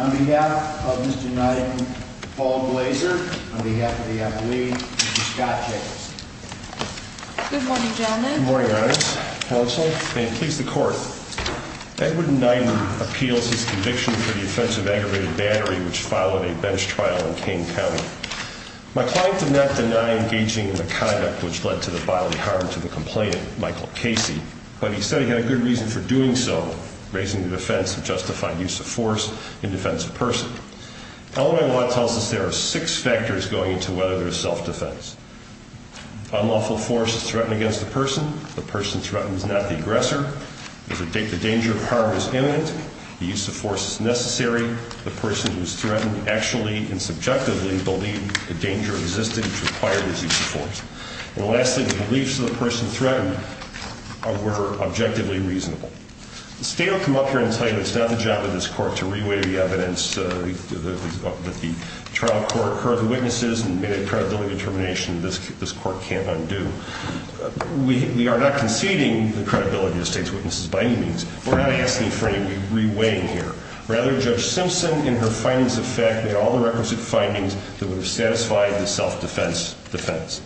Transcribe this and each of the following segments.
On behalf of Mr. Nyden, Paul Glazer, on behalf of the athlete, Mr. Scott Jacobson. Good morning, gentlemen. Good morning, ladies. Counsel, and please the court. Edward Nyden appeals his conviction for the offense of aggravated battery, which followed a bench trial in Kane County. My client did not deny engaging in the conduct which led to the bodily harm to the complainant, Michael Casey, but he said he had a good reason for doing so, raising the defense of justified use of force in defense of person. Illinois law tells us there are six factors going into whether there is self-defense. Unlawful force is threatened against the person. The person threatened is not the aggressor. The danger of harm is imminent. The use of force is necessary. The person who is threatened actually and subjectively believed the danger existed which required the use of force. And lastly, the beliefs of the person threatened were objectively reasonable. The state will come up here and tell you it's not the job of this court to re-weigh the evidence that the trial court heard the witnesses and made a credibility determination this court can't undo. We are not conceding the credibility of the state's witnesses by any means. We're not asking for any re-weighing here. Rather, Judge Simpson in her findings of fact made all the requisite findings that would have satisfied the self-defense defense.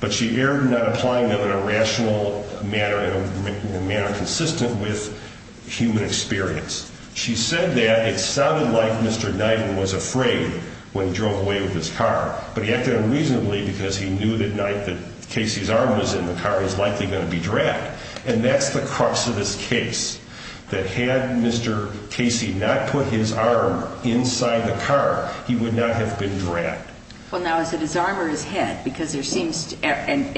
But she erred in not applying them in a rational manner, in a manner consistent with human experience. She said that it sounded like Mr. Knight was afraid when he drove away with his car. But he acted unreasonably because he knew that Knight, that Casey's arm was in the car, was likely going to be dragged. And that's the crux of this case, that had Mr. Casey not put his arm inside the car, he would not have been dragged. Well, now, is it his arm or his head? Because there seems to be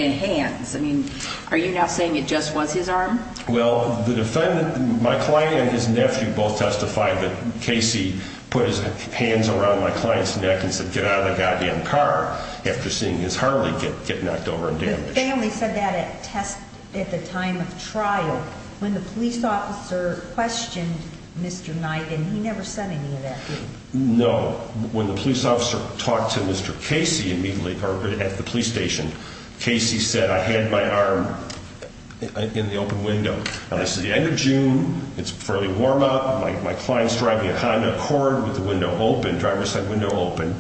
hands. I mean, are you now saying it just was his arm? Well, the defendant, my client and his nephew both testified that Casey put his hands around my client's neck and said, get out of the goddamn car, after seeing his Harley get knocked over and damaged. The family said that at the time of trial. When the police officer questioned Mr. Knight, he never said any of that, did he? No. When the police officer talked to Mr. Casey at the police station, Casey said, I had my arm in the open window. Now, this is the end of June. It's a fairly warm up. My client's driving a Honda Accord with the window open, driver's side window open.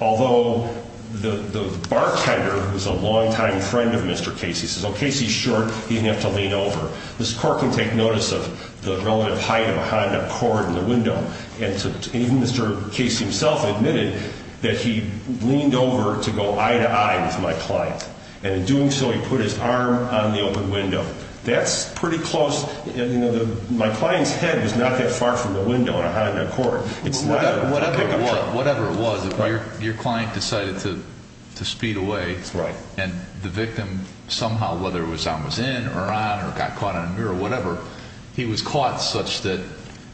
Although the bartender, who's a longtime friend of Mr. Casey, says, oh, Casey's short. He didn't have to lean over. This court can take notice of the relative height of a Honda Accord in the window. Mr. Casey himself admitted that he leaned over to go eye to eye with my client. And in doing so, he put his arm on the open window. That's pretty close. My client's head was not that far from the window on a Honda Accord. Whatever it was, your client decided to speed away. And the victim, somehow, whether it was I was in or out or got caught on a mirror or whatever, he was caught such that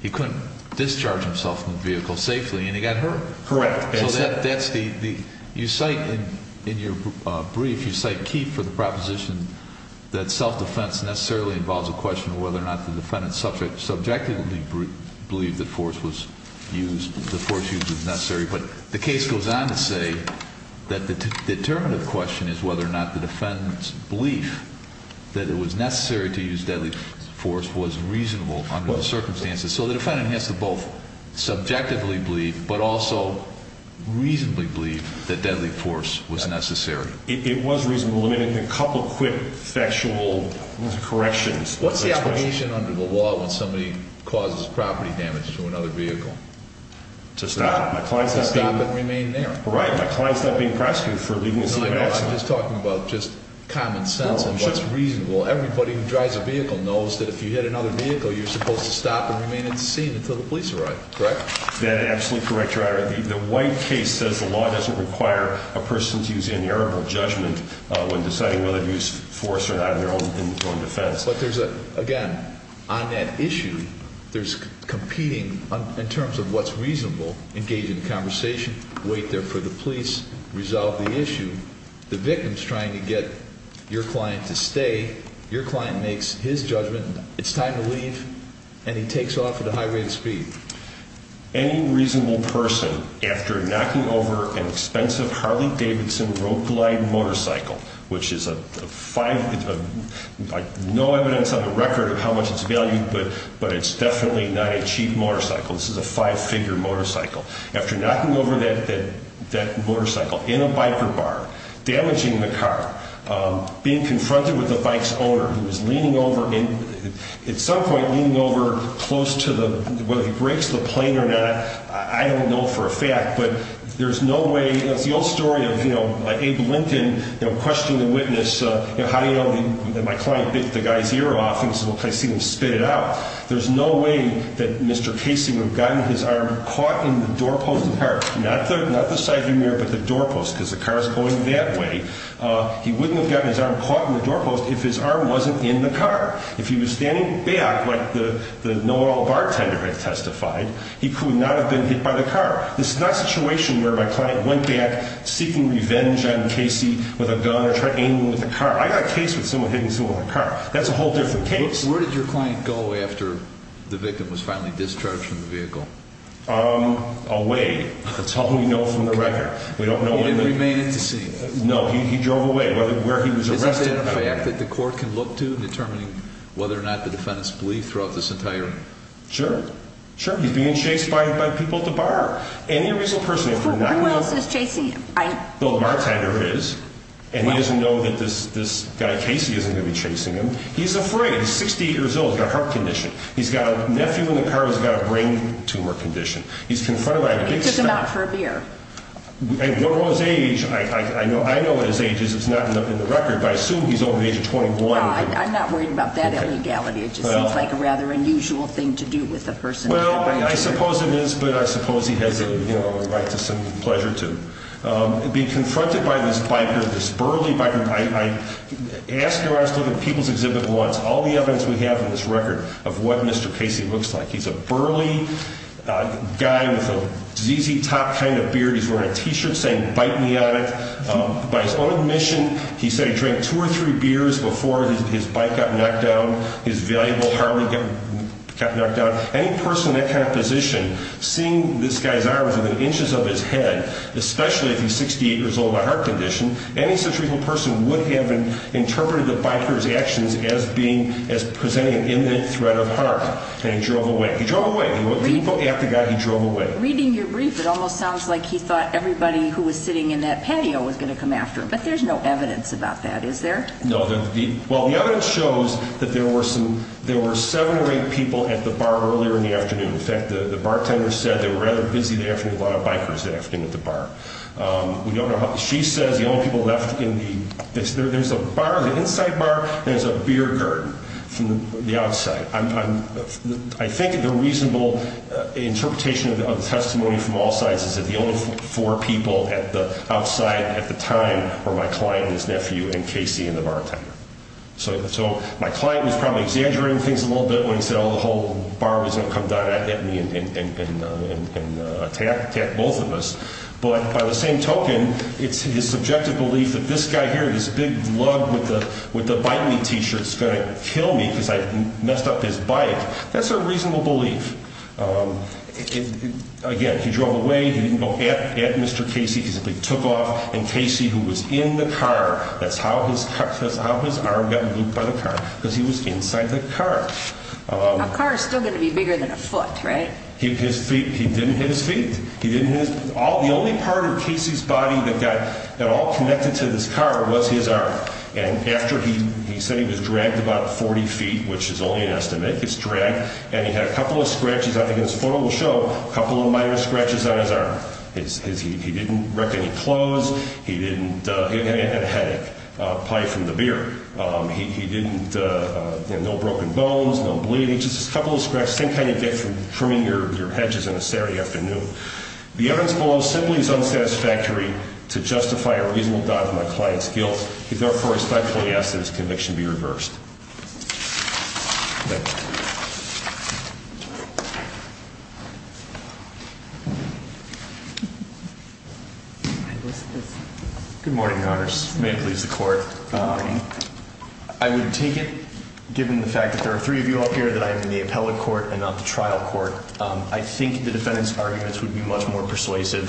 he couldn't discharge himself from the vehicle safely, and he got hurt. Correct. So that's the – you cite in your brief, you cite Keefe for the proposition that self-defense necessarily involves a question of whether or not the defendant subjectively believed that force was used, that force use was necessary. But the case goes on to say that the determinative question is whether or not the defendant's belief that it was necessary to use deadly force was reasonable under the circumstances. So the defendant has to both subjectively believe but also reasonably believe that deadly force was necessary. It was reasonable. Let me make a couple quick factual corrections. What's the obligation under the law when somebody causes property damage to another vehicle? To stop it. To stop it and remain there. My client's not being prosecuted for leaving a seat in an accident. I'm just talking about just common sense and what's reasonable. Everybody who drives a vehicle knows that if you hit another vehicle, you're supposed to stop and remain unseen until the police arrive, correct? That's absolutely correct, Your Honor. The White case says the law doesn't require a person to use inerrable judgment when deciding whether to use force or not in their own defense. But there's a – again, on that issue, there's competing in terms of what's reasonable, engage in conversation, wait there for the police, resolve the issue. The victim's trying to get your client to stay. Your client makes his judgment. It's time to leave, and he takes off at a high rate of speed. Any reasonable person, after knocking over an expensive Harley Davidson road-glide motorcycle, which is a five – no evidence on the record of how much it's valued, but it's definitely not a cheap motorcycle. This is a five-figure motorcycle. After knocking over that motorcycle in a biker bar, damaging the car, being confronted with the bike's owner who is leaning over, at some point leaning over close to the – whether he breaks the plane or not, I don't know for a fact, but there's no way – it's the old story of, you know, Abe Linton questioning the witness, you know, how do you know that my client bit the guy's ear off and he says, well, I see him spit it out. There's no way that Mr. Casey would have gotten his arm caught in the doorpost of the car, not the side view mirror, but the doorpost, because the car is going that way. He wouldn't have gotten his arm caught in the doorpost if his arm wasn't in the car. If he was standing back like the know-it-all bartender had testified, he could not have been hit by the car. This is not a situation where my client went back seeking revenge on Casey with a gun or tried aiming with a car. I got a case with someone hitting someone with a car. That's a whole different case. Where did your client go after the victim was finally discharged from the vehicle? Away. That's all we know from the record. He didn't remain in the scene? No, he drove away where he was arrested. Is that a fact that the court can look to, determining whether or not the defendants believed throughout this entire – Sure, sure. He's being chased by people at the bar. Any reasonable person – Who else is chasing him? The bartender is, and he doesn't know that this guy Casey isn't going to be chasing him. He's afraid. He's 68 years old. He's got a heart condition. His nephew in the car has got a brain tumor condition. He's confronted by a big – He took him out for a beer. I don't know his age. I know what his age is. It's not in the record, but I assume he's over the age of 21. I'm not worried about that illegality. It just seems like a rather unusual thing to do with a person – Well, I suppose it is, but I suppose he has a right to some pleasure, too. Being confronted by this biker, this burly biker, I asked him when I was looking at People's Exhibit once, all the evidence we have in this record of what Mr. Casey looks like. He's a burly guy with a ZZ Top kind of beard. He's wearing a T-shirt saying, bite me on it. By his own admission, he said he drank two or three beers before his bike got knocked down, his valuable Harley got knocked down. Any person in that kind of position, seeing this guy's arms within inches of his head, especially if he's 68 years old with a heart condition, any such reasonable person would have interpreted the biker's actions as presenting an imminent threat of harm. And he drove away. He drove away. He didn't go after the guy. He drove away. Reading your brief, it almost sounds like he thought everybody who was sitting in that patio was going to come after him, but there's no evidence about that, is there? No. Well, the evidence shows that there were seven or eight people at the bar earlier in the afternoon. In fact, the bartender said they were rather busy that afternoon. A lot of bikers that afternoon at the bar. We don't know how—she says the only people left in the— there's a bar, the inside bar, and there's a beer curtain from the outside. I think the reasonable interpretation of the testimony from all sides is that the only four people at the outside at the time were my client and his nephew and Casey and the bartender. So my client was probably exaggerating things a little bit when he said, oh, the whole bar was going to come down at me and attack both of us. But by the same token, it's his subjective belief that this guy here, this big lug with the bite me T-shirt is going to kill me because I messed up his bite. That's a reasonable belief. Again, he drove away. He didn't go at Mr. Casey. He simply took off, and Casey, who was in the car— that's how his arm got looped by the car, because he was inside the car. A car is still going to be bigger than a foot, right? He didn't hit his feet. The only part of Casey's body that got at all connected to this car was his arm. And after he said he was dragged about 40 feet, which is only an estimate, he was dragged, and he had a couple of scratches. I think his photo will show a couple of minor scratches on his arm. He didn't wreck any clothes. He didn't—he had a headache, probably from the beer. He didn't—no broken bones, no bleeding, just a couple of scratches. The same kind you get from trimming your hedges on a Saturday afternoon. The evidence below simply is unsatisfactory to justify a reasonable doubt in my client's guilt. He therefore respectfully asks that his conviction be reversed. Thank you. Good morning, Your Honors. May it please the Court. Good morning. I would take it, given the fact that there are three of you up here, that I am in the appellate court and not the trial court, I think the defendant's arguments would be much more persuasive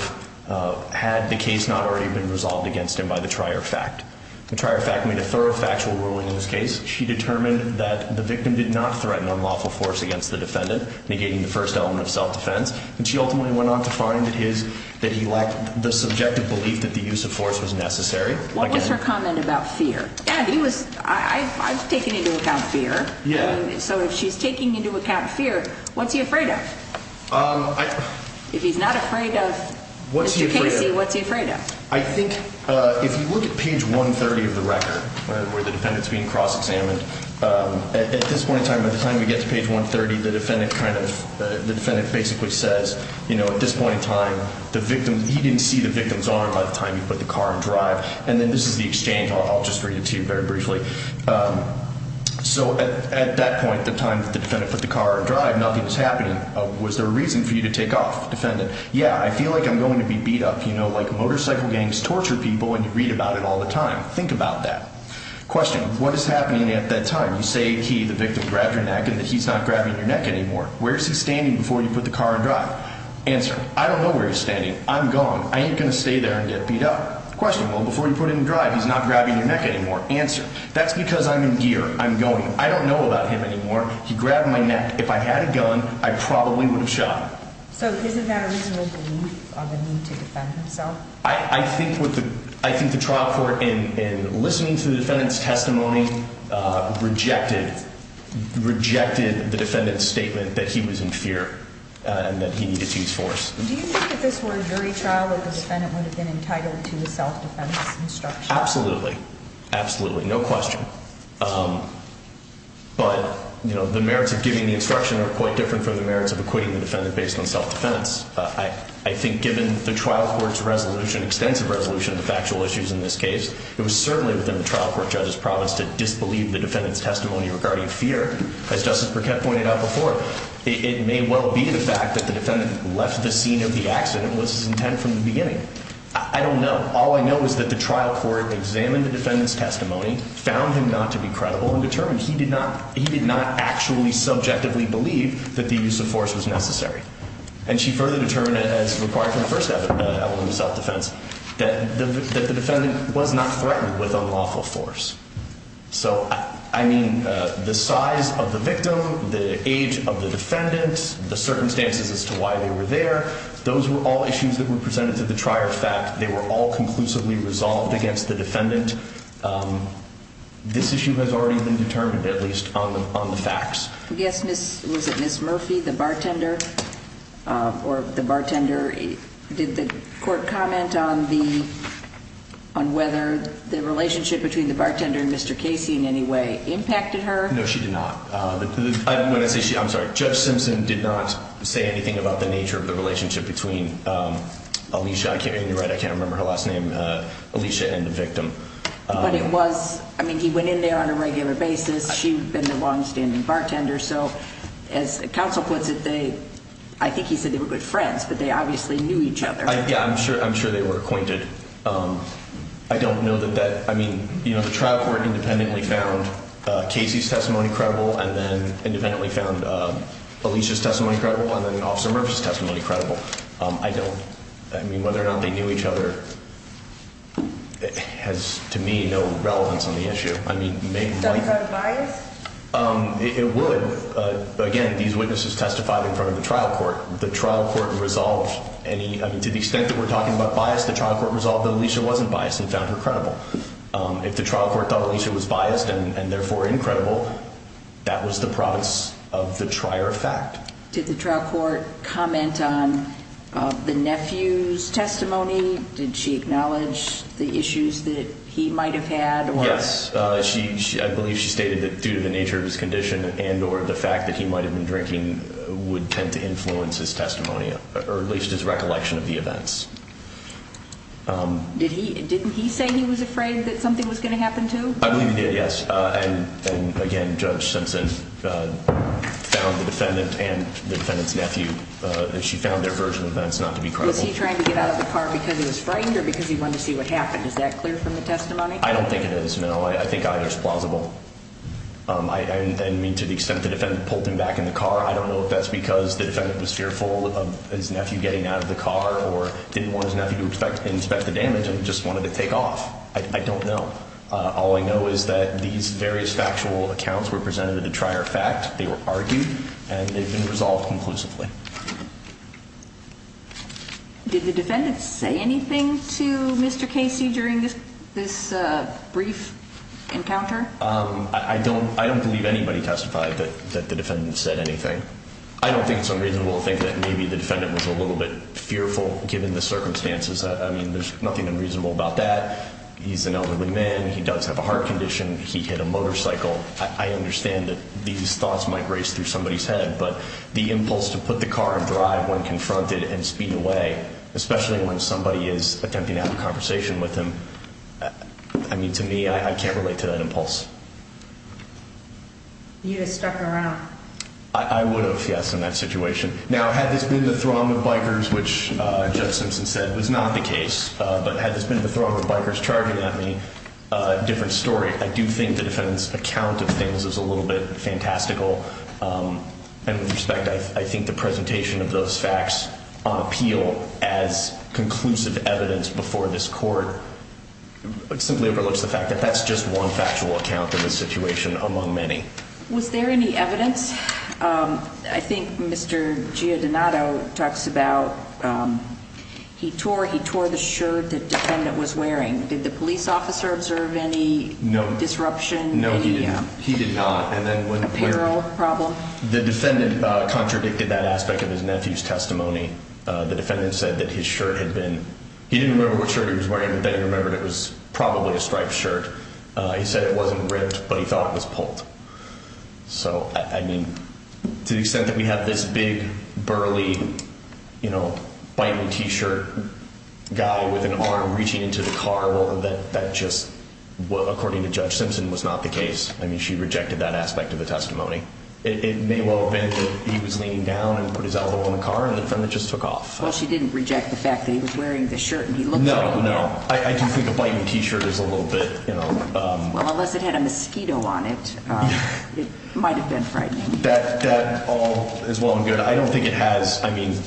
had the case not already been resolved against him by the trier fact. The trier fact made a thorough factual ruling in this case. She determined that the victim did not threaten unlawful force against the defendant, negating the first element of self-defense. And she ultimately went on to find that his—that he lacked the subjective belief that the use of force was necessary. What was her comment about fear? And he was—I've taken into account fear. So if she's taking into account fear, what's he afraid of? If he's not afraid of Mr. Casey, what's he afraid of? I think if you look at page 130 of the record, where the defendant's being cross-examined, at this point in time, by the time we get to page 130, the defendant kind of— he didn't see the victim's arm by the time he put the car in drive. And then this is the exchange. I'll just read it to you very briefly. So at that point, the time that the defendant put the car in drive, nothing was happening. Was there a reason for you to take off, defendant? Yeah, I feel like I'm going to be beat up, you know, like motorcycle gangs torture people and you read about it all the time. Think about that. Question, what is happening at that time? You say he, the victim, grabbed your neck and that he's not grabbing your neck anymore. Where is he standing before you put the car in drive? Answer, I don't know where he's standing. I'm gone. I ain't going to stay there and get beat up. Question, well, before you put it in drive, he's not grabbing your neck anymore. Answer, that's because I'm in gear. I'm going. I don't know about him anymore. He grabbed my neck. If I had a gun, I probably would have shot him. So isn't that a reasonable belief of a need to defend himself? I think the trial court, in listening to the defendant's testimony, rejected the defendant's statement that he was in fear and that he needed to use force. Do you think if this were a jury trial that the defendant would have been entitled to a self-defense instruction? Absolutely. Absolutely. No question. But, you know, the merits of giving the instruction are quite different from the merits of acquitting the defendant based on self-defense. I think given the trial court's resolution, extensive resolution of the factual issues in this case, it was certainly within the trial court judge's promise to disbelieve the defendant's testimony regarding fear. As Justice Burkett pointed out before, it may well be the fact that the defendant left the scene of the accident was his intent from the beginning. I don't know. All I know is that the trial court examined the defendant's testimony, found him not to be credible, and determined he did not actually subjectively believe that the use of force was necessary. And she further determined, as required from the first element of self-defense, that the defendant was not threatened with unlawful force. So, I mean, the size of the victim, the age of the defendant, the circumstances as to why they were there, those were all issues that were presented to the trier of fact. They were all conclusively resolved against the defendant. This issue has already been determined, at least on the facts. Yes, was it Ms. Murphy, the bartender, or the bartender? Did the court comment on whether the relationship between the bartender and Mr. Casey in any way impacted her? No, she did not. When I say she, I'm sorry, Judge Simpson did not say anything about the nature of the relationship between Alicia, and you're right, I can't remember her last name, Alicia and the victim. But it was, I mean, he went in there on a regular basis, she had been a longstanding bartender, so as counsel puts it, I think he said they were good friends, but they obviously knew each other. Yeah, I'm sure they were acquainted. I don't know that that, I mean, you know, the trial court independently found Casey's testimony credible, and then independently found Alicia's testimony credible, and then Officer Murphy's testimony credible. I don't, I mean, whether or not they knew each other has, to me, no relevance on the issue. I mean, maybe. Does that have bias? It would. Again, these witnesses testified in front of the trial court. The trial court resolved any, I mean, to the extent that we're talking about bias, the trial court resolved that Alicia wasn't biased and found her credible. If the trial court thought Alicia was biased and therefore incredible, that was the province of the trier of fact. Did the trial court comment on the nephew's testimony? Did she acknowledge the issues that he might have had? Yes. I believe she stated that due to the nature of his condition and or the fact that he might have been drinking would tend to influence his testimony, or at least his recollection of the events. Didn't he say he was afraid that something was going to happen to him? I believe he did, yes. And, again, Judge Simpson found the defendant and the defendant's nephew. She found their version of events not to be credible. Was he trying to get out of the car because he was frightened or because he wanted to see what happened? Is that clear from the testimony? I don't think it is, no. I think either is plausible. I mean, to the extent the defendant pulled him back in the car, I don't know if that's because the defendant was fearful of his nephew getting out of the car or didn't want his nephew to inspect the damage and just wanted to take off. I don't know. All I know is that these various factual accounts were presented at a trier fact. They were argued, and they've been resolved conclusively. Did the defendant say anything to Mr. Casey during this brief encounter? I don't believe anybody testified that the defendant said anything. I don't think it's unreasonable to think that maybe the defendant was a little bit fearful, given the circumstances. I mean, there's nothing unreasonable about that. He's an elderly man. He does have a heart condition. He hit a motorcycle. I understand that these thoughts might race through somebody's head, but the impulse to put the car in drive when confronted and speed away, especially when somebody is attempting to have a conversation with him, I mean, to me, I can't relate to that impulse. You would have stuck around. I would have, yes, in that situation. Now, had this been the throng of bikers, which Judge Simpson said was not the case, but had this been the throng of bikers charging at me, a different story. I do think the defendant's account of things is a little bit fantastical, and with respect, I think the presentation of those facts on appeal as conclusive evidence before this court simply overlooks the fact that that's just one factual account of the situation among many. Was there any evidence? I think Mr. Gia Donato talks about he tore the shirt the defendant was wearing. Did the police officer observe any disruption? No, he did not. Apparel problem? The defendant contradicted that aspect of his nephew's testimony. The defendant said that his shirt had been, he didn't remember what shirt he was wearing, but then he remembered it was probably a striped shirt. He said it wasn't ribbed, but he thought it was pulled. So, I mean, to the extent that we have this big, burly, you know, bite me T-shirt guy with an arm reaching into the car, well, that just, according to Judge Simpson, was not the case. I mean, she rejected that aspect of the testimony. It may well have been that he was leaning down and put his elbow in the car, and the defendant just took off. Well, she didn't reject the fact that he was wearing the shirt and he looked like it. No, no. I do think a bite me T-shirt is a little bit, you know. Well, unless it had a mosquito on it, it might have been frightening. That all is well and good. I don't think it has, I mean,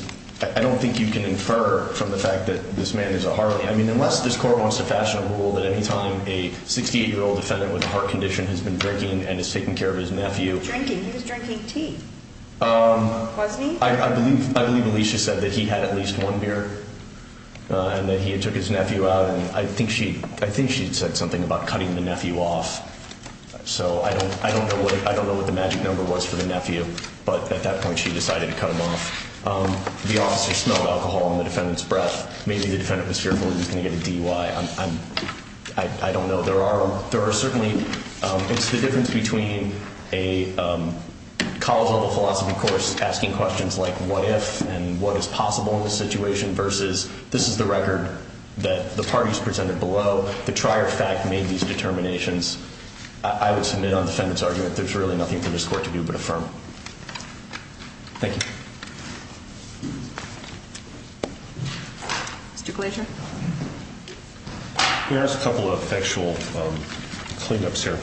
I don't think you can infer from the fact that this man is a Harley. I mean, unless this court wants to fashion a rule that anytime a 68-year-old defendant with a heart condition has been drinking and is taking care of his nephew. Drinking? He was drinking tea, wasn't he? I believe Alicia said that he had at least one beer and that he had took his nephew out, and I think she said something about cutting the nephew off. So I don't know what the magic number was for the nephew, but at that point she decided to cut him off. The officer smelled alcohol in the defendant's breath. Maybe the defendant was fearful he was going to get a DUI. I don't know. There are certainly, it's the difference between a college-level philosophy course asking questions like, what if, and what is possible in this situation, versus this is the record that the parties presented below. The trier fact made these determinations. I would submit on the defendant's argument there's really nothing for this court to do but affirm. Thank you. Mr. Glaser? Here's a couple of factual cleanups here.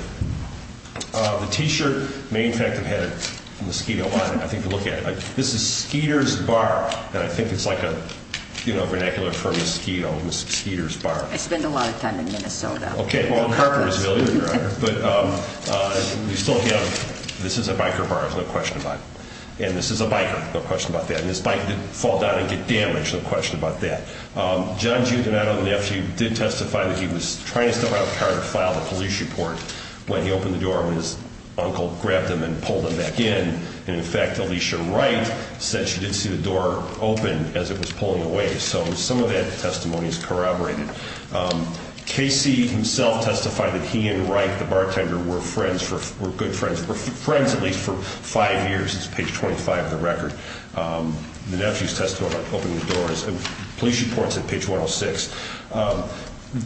The T-shirt may, in fact, have had a mosquito on it. This is Skeeter's Bar, and I think it's like a vernacular for mosquito, Skeeter's Bar. I spend a lot of time in Minnesota. Well, Carter was really the driver. This is a biker bar, there's no question about it. And this is a biker, no question about that. And this bike didn't fall down and get damaged, no question about that. John Giuginato, the nephew, did testify that he was trying to stop how Carter filed a police report when he opened the door and his uncle grabbed him and pulled him back in. And, in fact, Alicia Wright said she didn't see the door open as it was pulling away. So some of that testimony is corroborated. Casey himself testified that he and Wright, the bartender, were friends, were good friends, were friends at least for five years. This is page 25 of the record. The nephew's testimony about opening the door is a police report. It's at page 106.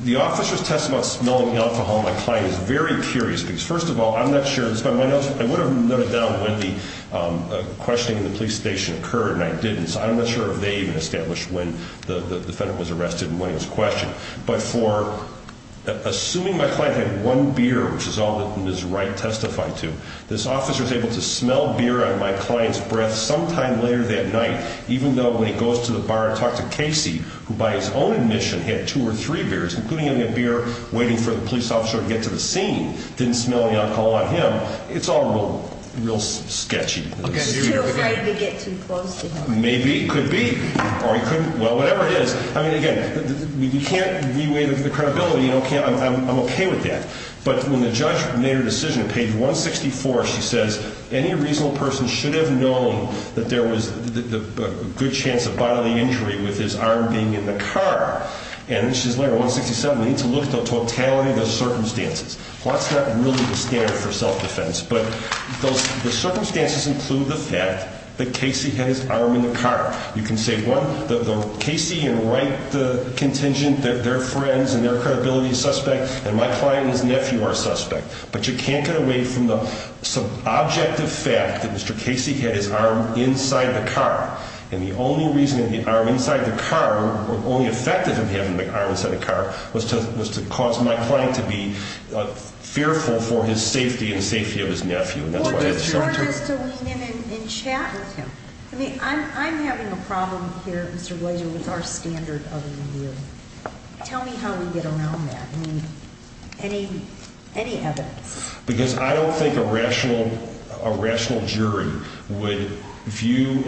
The officer's testimony about smelling the alcohol on my client is very curious because, first of all, I would have noted down when the questioning in the police station occurred and I didn't, so I'm not sure if they even established when the defendant was arrested and when he was questioned. But for assuming my client had one beer, which is all that Ms. Wright testified to, this officer was able to smell beer out of my client's breath sometime later that night, even though when he goes to the bar to talk to Casey, who by his own admission had two or three beers, including only a beer, waiting for the police officer to get to the scene, didn't smell the alcohol on him. It's all real sketchy. He was too afraid to get too close to him. Maybe. It could be. Or he couldn't. Well, whatever it is. I mean, again, we can't re-weigh the credibility. I'm okay with that. But when the judge made her decision, page 164, she says, any reasonable person should have known that there was a good chance of bodily injury with his arm being in the car. And she says later, 167, we need to look at the totality of the circumstances. That's not really the standard for self-defense. But the circumstances include the fact that Casey had his arm in the car. You can say, one, Casey and Wright, the contingent, they're friends and their credibility is suspect, and my client and his nephew are suspect. But you can't get away from the subjective fact that Mr. Casey had his arm inside the car. And the only reason that the arm inside the car, or only effect of him having the arm inside the car, was to cause my client to be fearful for his safety and the safety of his nephew. Or just to lean in and chat with him. I mean, I'm having a problem here, Mr. Blaser, with our standard of a review. Tell me how we get around that. I mean, any evidence. Because I don't think a rational jury would view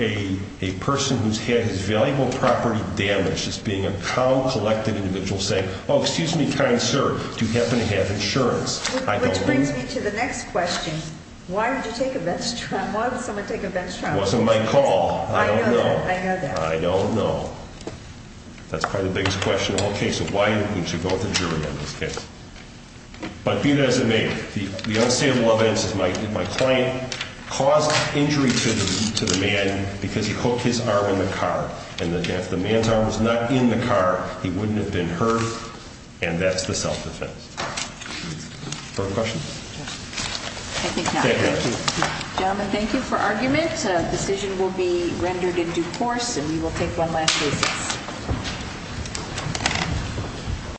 a person who's had his valuable property damaged as being a cow-collected individual saying, oh, excuse me, kind sir, do you happen to have insurance? Which brings me to the next question. Why would you take a bench tram? Why would someone take a bench tram? It wasn't my call. I don't know. I know that. I don't know. That's probably the biggest question of the whole case. So why would you vote the jury on this case? But be that as it may, the unstable evidence is my client caused injury to the man because he hooked his arm in the car. And if the man's arm was not in the car, he wouldn't have been hurt. And that's the self-defense. Further questions? I think not. Thank you. Gentlemen, thank you for argument. A decision will be rendered in due course, and we will take one last business.